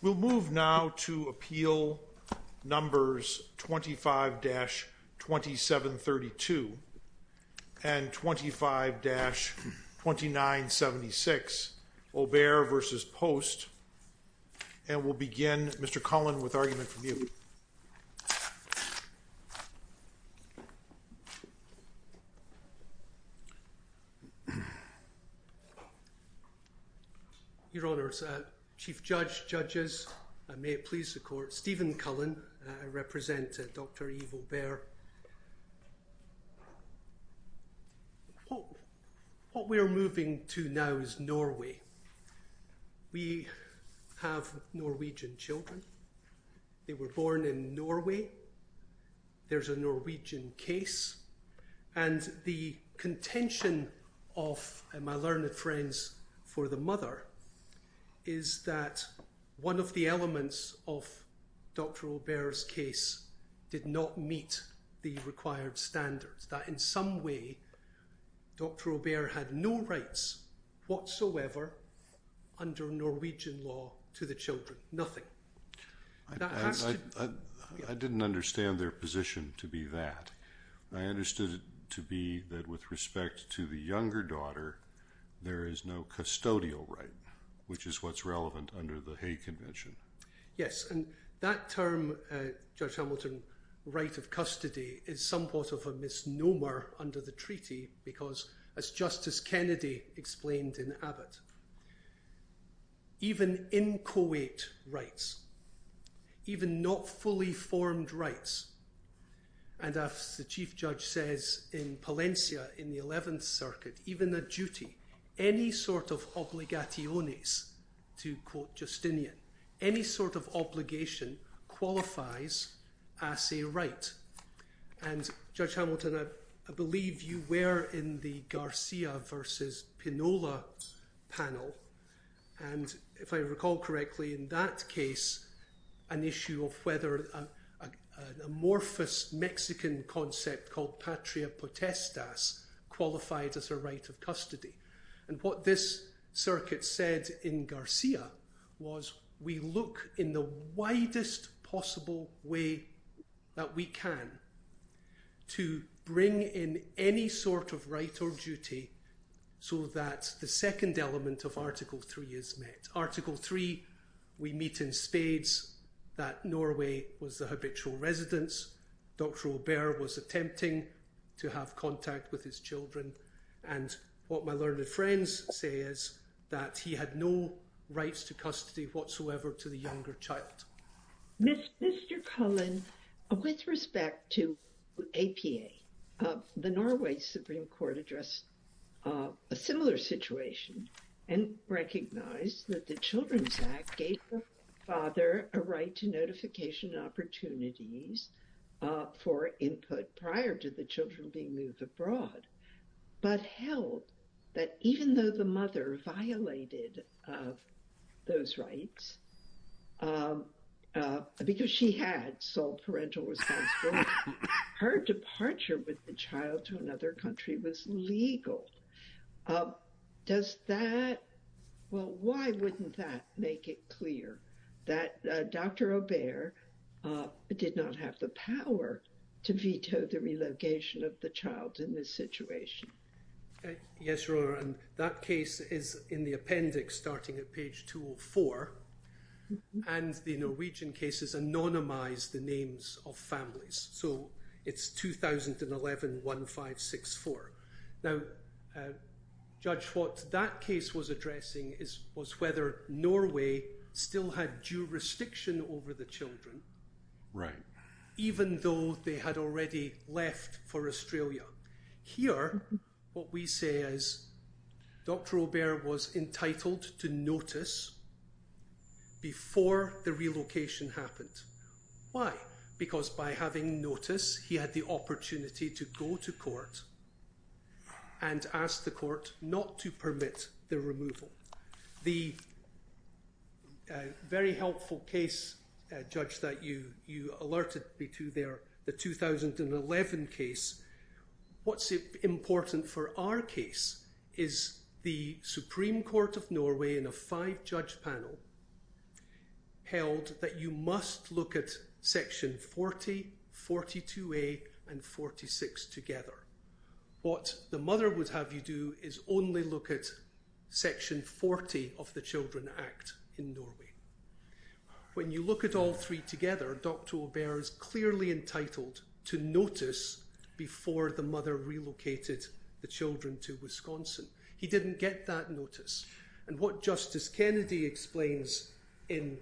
We'll move now to Appeal Numbers 25-2732 and 25-2976, Aubert v. Poast, and we'll begin, Your Honours, Chief Judge, Judges, may it please the Court, Stephen Cullen, I represent Dr. Yves Aubert. What we are moving to now is Norway. We have Norwegian children. They were born in Norway. There's a Norwegian case, and the contention of my learned friends for the mother is that one of the elements of Dr. Aubert's case did not meet the required standards, that in some way Dr. Aubert had no rights whatsoever under Norwegian law to the children, nothing. I didn't understand their position to be that. I understood it to be that with respect to the younger daughter, there is no custodial right, which is what's relevant under the Hay Convention. Yes, and that term, Judge Hamilton, right of custody, is somewhat of a misnomer under the Treaty because, as Justice Kennedy explained in Abbott, even inchoate rights, even not fully formed rights, and as the Chief Judge says in Palencia in the Eleventh Circuit, even a duty, any sort of obligationes, to quote Justinian, any sort of obligation qualifies as a right. And, Judge Hamilton, I believe you were in the Garcia versus Pinola panel, and if I recall correctly, in that case, an issue of whether an amorphous Mexican concept called patria potestas qualified as a right of custody. And what this circuit said in Garcia was, we look in the widest possible way that we can to bring in any sort of right or duty so that the second element of Article 3 is met. Article 3, we meet in spades that Norway was the habitual residence, Dr. Robert was attempting to have contact with his children, and what my learned friends say is that he had no rights to custody whatsoever to the younger child. Mr. Cullen, with respect to APA, the Norway Supreme Court addressed a similar situation and recognized that the Children's Act gave the father a right to notification opportunities for input prior to the children being moved abroad, but held that even though the mother violated those rights, because she had sole parental responsibility, her departure with the child to another country was legal. Does that, well, why wouldn't that make it clear that Dr. Robert did not have the power to veto the relegation of the child in this situation? Yes, Your Honor, and that case is in the appendix starting at page 204, and the Norwegian cases anonymize the names of families, so it's 2011-1564. Now, Judge, what that case was addressing was whether Norway still had jurisdiction over the children, even though they had already left for Australia. Here, what we say is Dr. Robert was entitled to notice before the relocation happened. Why? Because by having notice, he had the opportunity to go to court and ask the court not to permit the removal. The very helpful case, Judge, that you alerted me to there, the 2011 case, what's important for our case is the Supreme Court of Norway in a five-judge panel held that you must look at section 40, 42A, and 46 together. What the mother would have you do is only look at section 40 of the Children Act in Norway. When you look at all three together, Dr. Robert is clearly entitled to notice before the mother relocated the children to Wisconsin. He didn't get that notice, and what Justice Kennedy explains in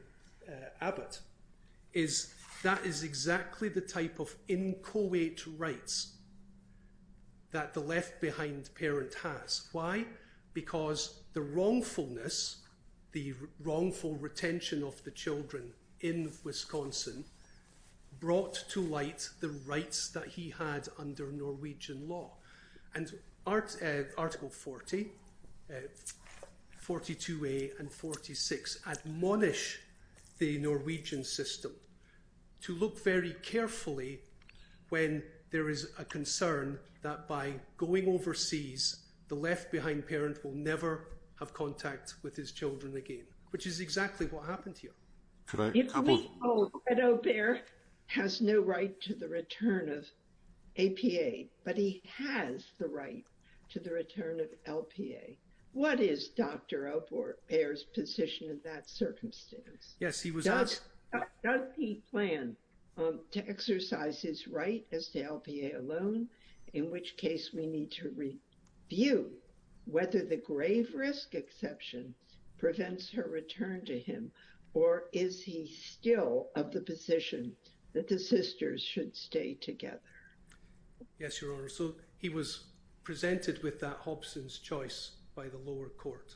Abbott is that is exactly the type of inchoate rights that the left-behind parent has. Why? Because the wrongfulness, the wrongful retention of the children in Wisconsin brought to light the rights that he had under Norwegian law. Article 40, 42A, and 46 admonish the Norwegian system to look very carefully when there is a concern that by going overseas, the left-behind parent will never have contact with his children again, which is exactly what happened here. If we hold that Obert has no right to the return of APA, but he has the right to the return of LPA, what is Dr. Obert's position in that circumstance? Does he plan to exercise his right as to LPA alone, in which case we need to review whether the grave risk exception prevents her return to him, or is he still of the position that the sisters should stay together? Yes, Your Honor. So he was presented with that Hobson's choice by the lower court.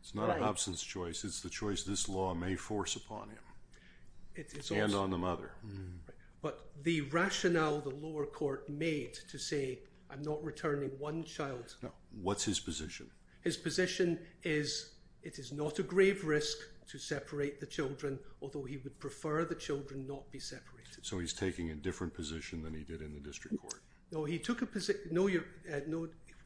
It's not a Hobson's choice, it's the choice this law may force upon him, and on the mother. But the rationale the lower court made to say, I'm not returning one child. What's his position? His position is, it is not a grave risk to separate the children, although he would prefer the children not be separated. So he's taking a different position than he did in the district court. No,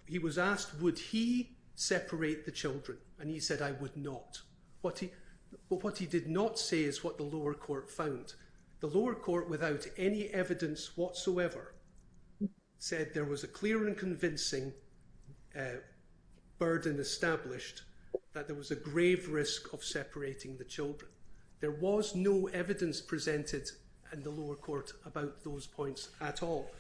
he was asked, would he separate the children, and he said, I would not. What he did not say is what the lower court found. The lower court, without any evidence whatsoever, said there was a clear and convincing burden established that there was a grave risk of separating the children. There was no evidence presented in the lower court about those points at all.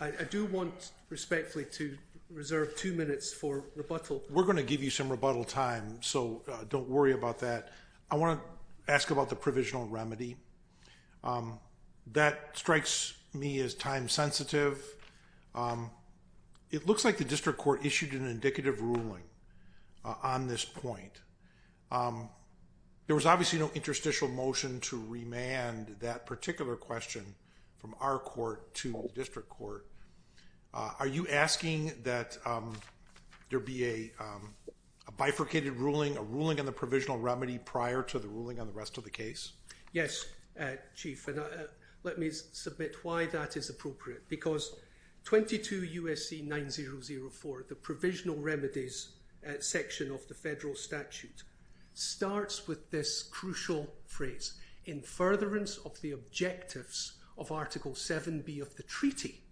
I do want respectfully to reserve two minutes for rebuttal. We're going to give you some rebuttal time, so don't worry about that. I want to ask about the provisional remedy. That strikes me as time sensitive. It looks like the district court issued an indicative ruling on this point. There was obviously no interstitial motion to remand that particular question from our court to the district court. Are you asking that there be a bifurcated ruling, a ruling on the provisional remedy prior to the ruling on the rest of the case? Yes, Chief. Let me submit why that is appropriate. 22 U.S.C. 9004, the provisional remedies section of the federal statute, starts with this crucial phrase, in furtherance of the objectives of Article 7b of the treaty,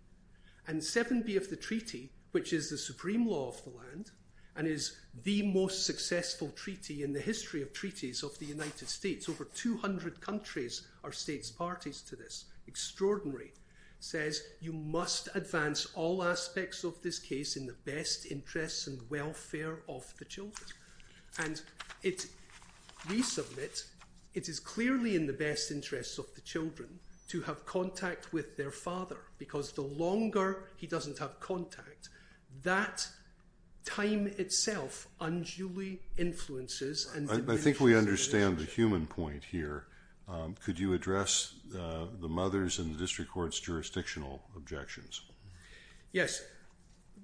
and 7b of the treaty, which is the supreme law of the land, and is the most successful treaty in the history of treaties of the United States. Over 200 countries are states parties to this. Extraordinary. It says you must advance all aspects of this case in the best interests and welfare of the children. And we submit it is clearly in the best interests of the children to have contact with their father, because the longer he doesn't have contact, that time itself unduly influences and diminishes. I think we understand the human point here. Could you address the mother's and the district court's jurisdictional objections? Yes.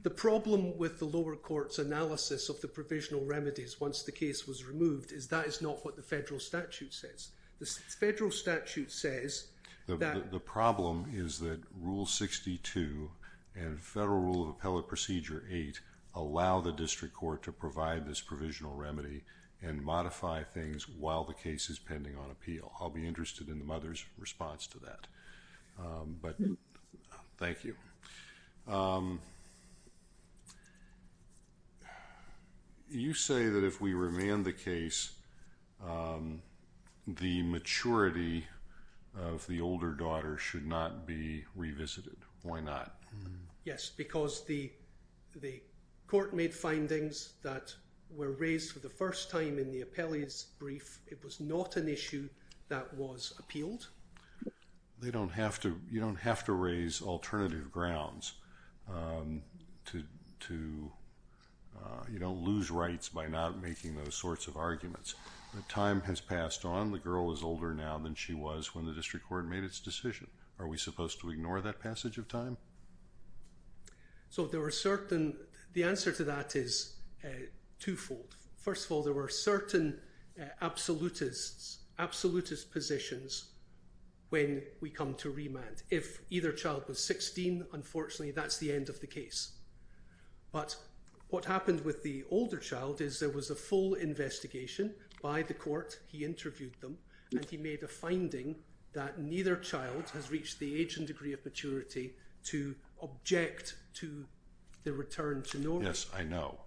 The problem with the lower court's analysis of the provisional remedies once the case was removed is that is not what the federal statute says. The federal statute says that... The problem is that Rule 62 and Federal Rule of Appellate Procedure 8 allow the district court to provide this provisional remedy and modify things while the case is pending on appeal. I'll be interested in the mother's response to that. Thank you. You say that if we remand the case, the maturity of the older daughter should not be revisited. Why not? Yes, because the court made findings that were raised for the first time in the appellee's brief. It was not an issue that was appealed. You don't have to raise alternative grounds to lose rights by not making those sorts of arguments. Time has passed on. The girl is older now than she was when the district court made its decision. Are we supposed to ignore that passage of time? The answer to that is twofold. First of all, there were certain absolutist positions when we come to remand. If either child was 16, unfortunately, that's the end of the case. But what happened with the older child is there was a full investigation by the court. He interviewed them, and he made a finding that neither child has reached the age and degree of maturity to object to the return to normal. Yes, I know.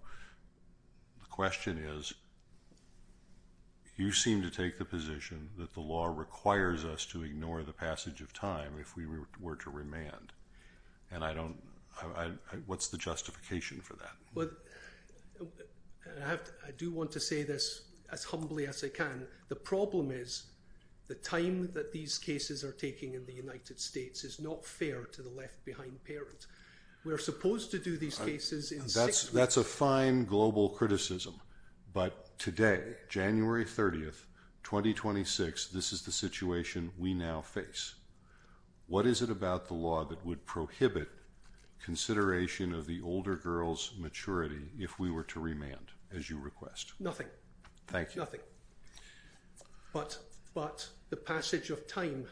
The question is, you seem to take the position that the law requires us to ignore the passage of time if we were to remand. What's the justification for that? I do want to say this as humbly as I can. The problem is the time that these cases are taking in the United States is not fair to the left-behind parents. We're supposed to do these cases in six weeks. That's a fine global criticism, but today, January 30, 2026, this is the situation we now face. What is it about the law that would prohibit consideration of the older girl's maturity if we were to remand, as you request? Nothing. Thank you. Nothing. But the passage of time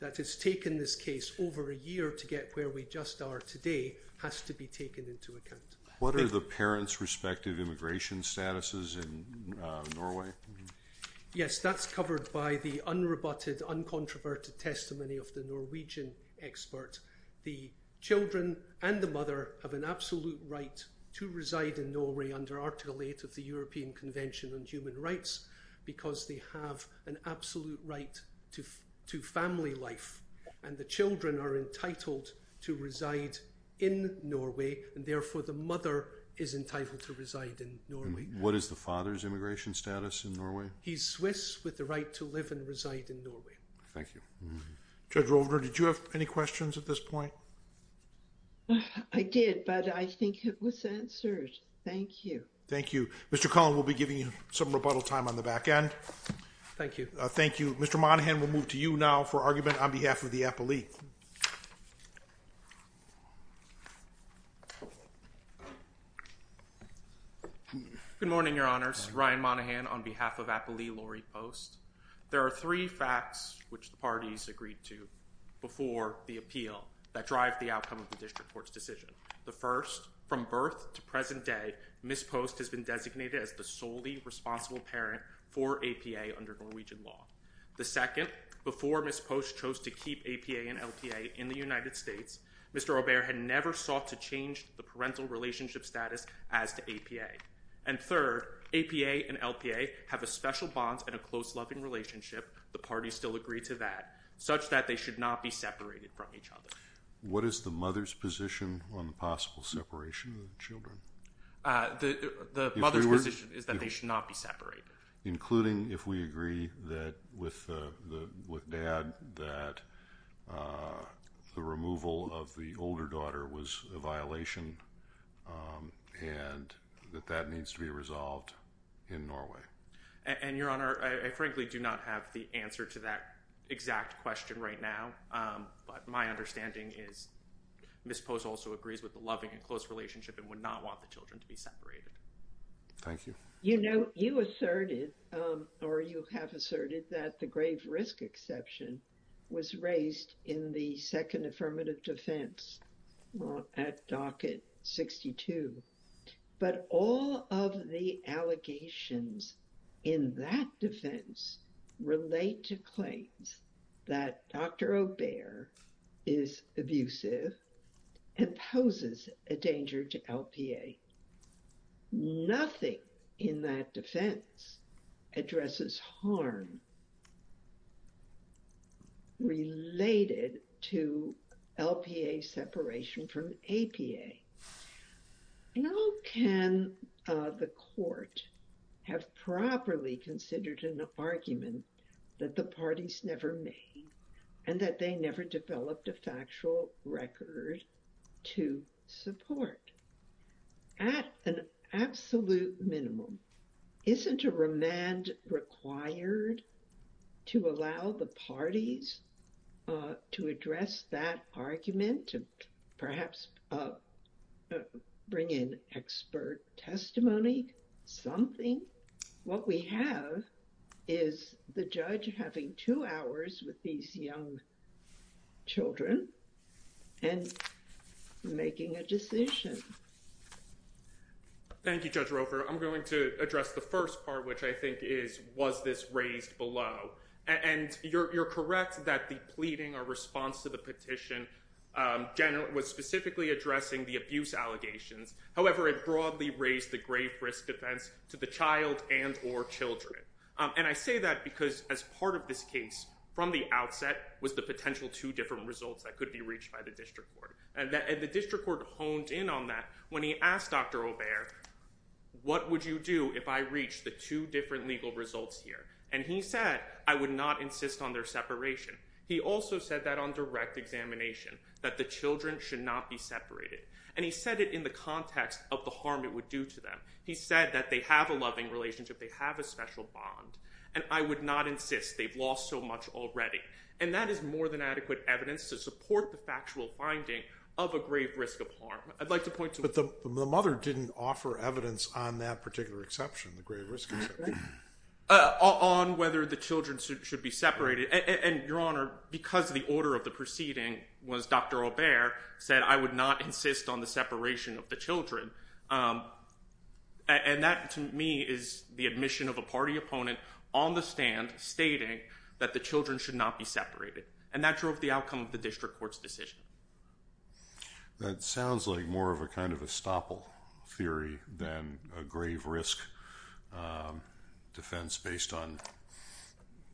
that has taken this case over a year to get where we just are today has to be taken into account. What are the parents' respective immigration statuses in Norway? Yes, that's covered by the unrebutted, uncontroverted testimony of the Norwegian expert. The children and the mother have an absolute right to reside in Norway under Article 8 of the European Convention on Human Rights because they have an absolute right to family life, and the children are entitled to reside in Norway, and therefore the mother is entitled to reside in Norway. What is the father's immigration status in Norway? He's Swiss with the right to live and reside in Norway. Thank you. Judge Rovner, did you have any questions at this point? I did, but I think it was answered. Thank you. Thank you. Mr. Cullen, we'll be giving you some rebuttal time on the back end. Thank you. Thank you. Mr. Monaghan, we'll move to you now for argument on behalf of the appellee. Good morning, Your Honors. Ryan Monaghan on behalf of Appellee Laurie Post. There are three facts which the parties agreed to before the appeal that drive the outcome of the district court's decision. The first, from birth to present day, Ms. Post has been designated as the solely responsible parent for APA under Norwegian law. The second, before Ms. Post chose to keep APA and LPA in the United States, Mr. Robert had never sought to change the parental relationship status as to APA. And third, APA and LPA have a special bond and a close, loving relationship. The parties still agree to that, such that they should not be separated from each other. What is the mother's position on the possible separation of the children? The mother's position is that they should not be separated. Including if we agree with Dad that the removal of the older daughter was a violation and that that needs to be resolved in Norway. And, Your Honor, I frankly do not have the answer to that exact question right now. But my understanding is Ms. Post also agrees with the loving and close relationship and would not want the children to be separated. Thank you. You know, you asserted or you have asserted that the grave risk exception was raised in the Second Affirmative Defense at Docket 62. But all of the allegations in that defense relate to claims that Dr. Aubert is abusive and poses a danger to LPA. Nothing in that defense addresses harm related to LPA separation from APA. How can the court have properly considered an argument that the parties never made and that they never developed a factual record to support? At an absolute minimum, isn't a remand required to allow the parties to address that argument to perhaps bring in expert testimony, something? What we have is the judge having two hours with these young children and making a decision. Thank you, Judge Roper. I'm going to address the first part, which I think is, was this raised below? And you're correct that the pleading or response to the petition was specifically addressing the abuse allegations. However, it broadly raised the grave risk defense to the child and or children. And I say that because as part of this case from the outset was the potential two different results that could be reached by the district court. And the district court honed in on that when he asked Dr. Aubert, what would you do if I reach the two different legal results here? And he said, I would not insist on their separation. He also said that on direct examination, that the children should not be separated. And he said it in the context of the harm it would do to them. He said that they have a loving relationship. They have a special bond. And I would not insist they've lost so much already. And that is more than adequate evidence to support the factual finding of a grave risk of harm. I'd like to point to… But the mother didn't offer evidence on that particular exception, the grave risk exception. On whether the children should be separated. And, Your Honor, because the order of the proceeding was Dr. Aubert said, I would not insist on the separation of the children. And that to me is the admission of a party opponent on the stand stating that the children should not be separated. And that drove the outcome of the district court's decision. That sounds like more of a kind of estoppel theory than a grave risk defense based on,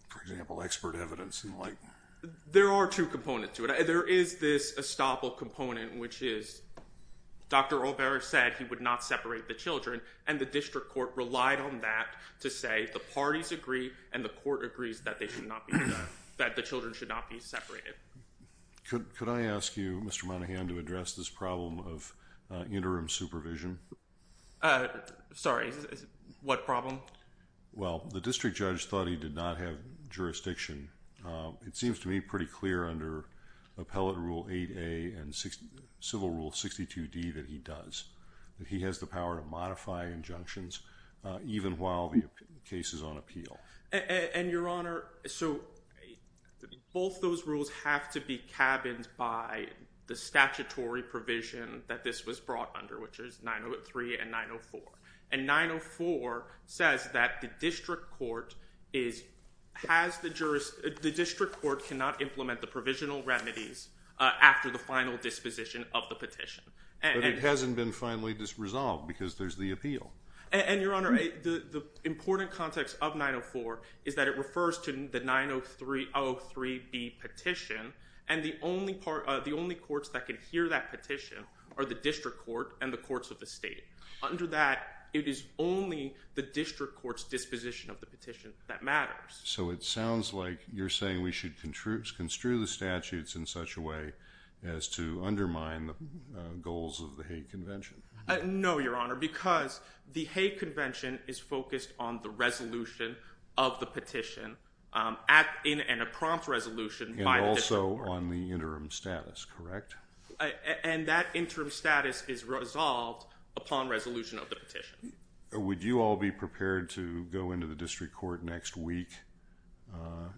for example, expert evidence and the like. There are two components to it. There is this estoppel component, which is Dr. Aubert said he would not separate the children. And the district court relied on that to say the parties agree and the court agrees that the children should not be separated. Could I ask you, Mr. Monahan, to address this problem of interim supervision? Sorry, what problem? Well, the district judge thought he did not have jurisdiction. It seems to me pretty clear under Appellate Rule 8A and Civil Rule 62D that he does. That he has the power to modify injunctions even while the case is on appeal. And, Your Honor, so both those rules have to be cabined by the statutory provision that this was brought under, which is 903 and 904. And 904 says that the district court cannot implement the provisional remedies after the final disposition of the petition. But it hasn't been finally resolved because there's the appeal. And, Your Honor, the important context of 904 is that it refers to the 903-03-B petition. And the only courts that can hear that petition are the district court and the courts of the state. Under that, it is only the district court's disposition of the petition that matters. So it sounds like you're saying we should construe the statutes in such a way as to undermine the goals of the Hague Convention. No, Your Honor, because the Hague Convention is focused on the resolution of the petition in an impromptu resolution by the district court. And also on the interim status, correct? And that interim status is resolved upon resolution of the petition. Would you all be prepared to go into the district court next week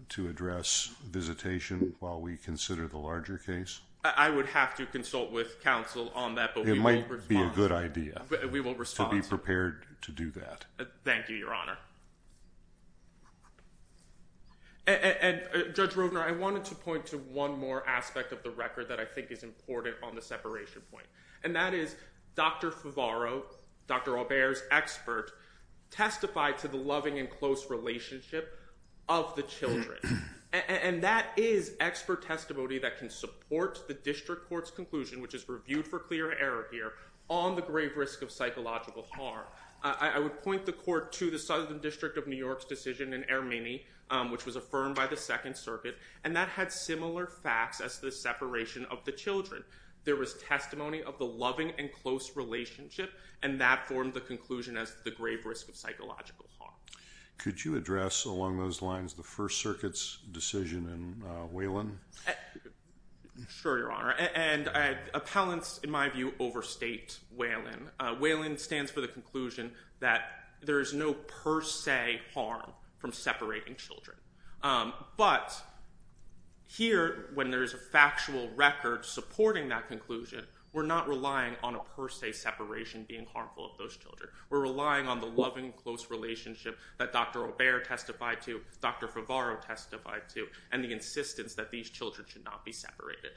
to address visitation while we consider the larger case? I would have to consult with counsel on that. It might be a good idea. We will respond. To be prepared to do that. Thank you, Your Honor. And, Judge Rovner, I wanted to point to one more aspect of the record that I think is important on the separation point. And that is Dr. Favaro, Dr. Aubert's expert, testified to the loving and close relationship of the children. And that is expert testimony that can support the district court's conclusion, which is reviewed for clear error here, on the grave risk of psychological harm. I would point the court to the Southern District of New York's decision in Ermini, which was affirmed by the Second Circuit. And that had similar facts as the separation of the children. There was testimony of the loving and close relationship, and that formed the conclusion as the grave risk of psychological harm. Could you address, along those lines, the First Circuit's decision in Whalen? Sure, Your Honor. And appellants, in my view, overstate Whalen. Whalen stands for the conclusion that there is no per se harm from separating children. But here, when there is a factual record supporting that conclusion, we're not relying on a per se separation being harmful of those children. We're relying on the loving and close relationship that Dr. Aubert testified to, Dr. Favaro testified to, and the insistence that these children should not be separated.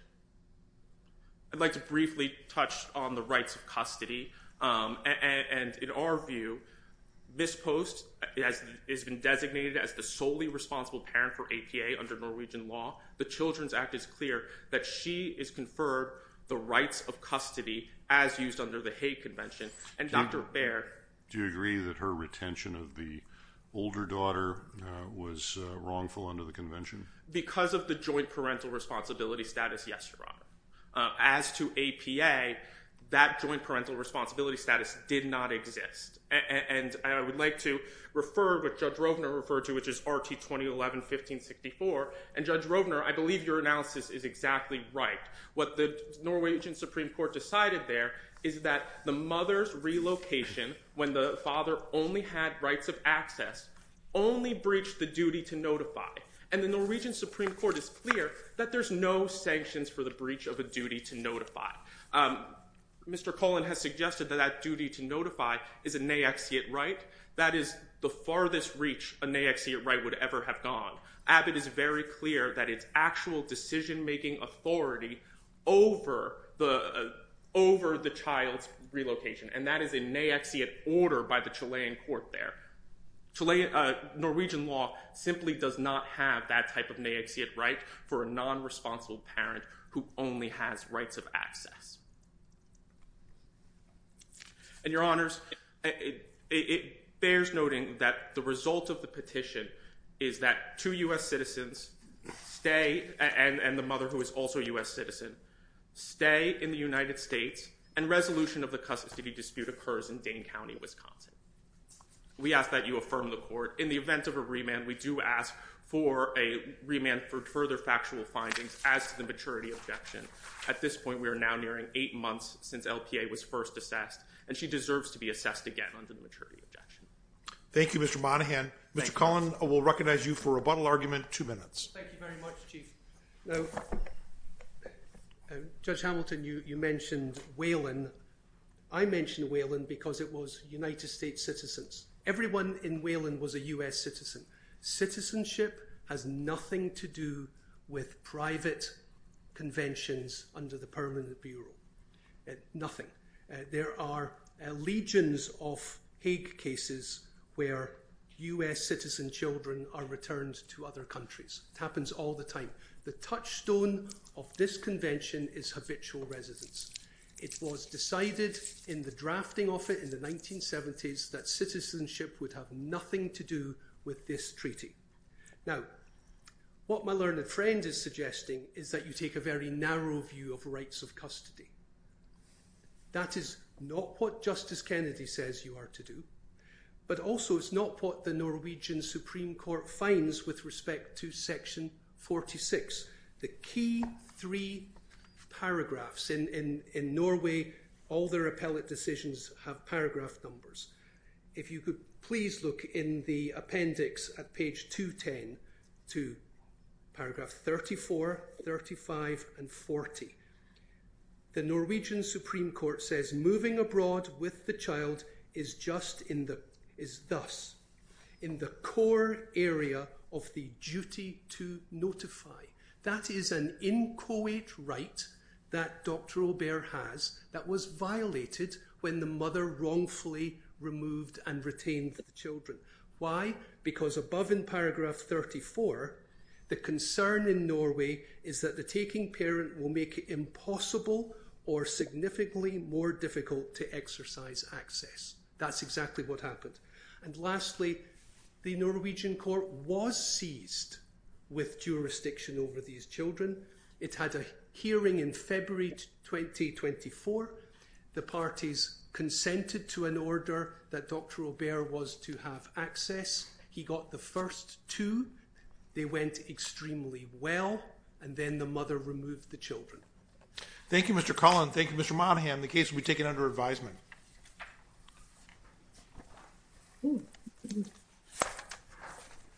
I'd like to briefly touch on the rights of custody. And in our view, this post has been designated as the solely responsible parent for APA under Norwegian law. The Children's Act is clear that she is conferred the rights of custody as used under the Hague Convention. And Dr. Baird? Do you agree that her retention of the older daughter was wrongful under the Convention? Because of the joint parental responsibility status, yes, Your Honor. As to APA, that joint parental responsibility status did not exist. And I would like to refer what Judge Rovner referred to, which is R.T. 2011-1564. And, Judge Rovner, I believe your analysis is exactly right. What the Norwegian Supreme Court decided there is that the mother's relocation, when the father only had rights of access, only breached the duty to notify. And the Norwegian Supreme Court is clear that there's no sanctions for the breach of a duty to notify. Mr. Cullen has suggested that that duty to notify is a naexiate right. That is the farthest reach a naexiate right would ever have gone. Abbott is very clear that it's actual decision-making authority over the child's relocation. And that is a naexiate order by the Chilean court there. Norwegian law simply does not have that type of naexiate right for a non-responsible parent who only has rights of access. And, Your Honors, it bears noting that the result of the petition is that two U.S. citizens stay, and the mother, who is also a U.S. citizen, stay in the United States. And resolution of the custody dispute occurs in Dane County, Wisconsin. We ask that you affirm the court. In the event of a remand, we do ask for a remand for further factual findings as to the maturity objection. At this point, we are now nearing eight months since LPA was first assessed, and she deserves to be assessed again under the maturity objection. Thank you, Mr. Monaghan. Mr. Cullen will recognize you for rebuttal argument, two minutes. Thank you very much, Chief. Now, Judge Hamilton, you mentioned Wayland. I mentioned Wayland because it was United States citizens. Everyone in Wayland was a U.S. citizen. Citizenship has nothing to do with private conventions under the Permanent Bureau. Nothing. There are legions of Hague cases where U.S. citizen children are returned to other countries. It happens all the time. The touchstone of this convention is habitual residence. It was decided in the drafting of it in the 1970s that citizenship would have nothing to do with this treaty. Now, what my learned friend is suggesting is that you take a very narrow view of rights of custody. That is not what Justice Kennedy says you are to do, but also it's not what the Norwegian Supreme Court finds with respect to Section 46. The key three paragraphs in Norway, all their appellate decisions have paragraph numbers. If you could please look in the appendix at page 210 to paragraph 34, 35, and 40. The Norwegian Supreme Court says moving abroad with the child is thus in the core area of the duty to notify. That is an inchoate right that Dr. Aubert has that was violated when the mother wrongfully removed and retained the children. Why? Because above in paragraph 34, the concern in Norway is that the taking parent will make it impossible or significantly more difficult to exercise access. That's exactly what happened. And lastly, the Norwegian court was seized with jurisdiction over these children. It had a hearing in February 2024. The parties consented to an order that Dr. Aubert was to have access. He got the first two. They went extremely well, and then the mother removed the children. Thank you, Mr. Cullen. Thank you, Mr. Monaghan. The case will be taken under advisement.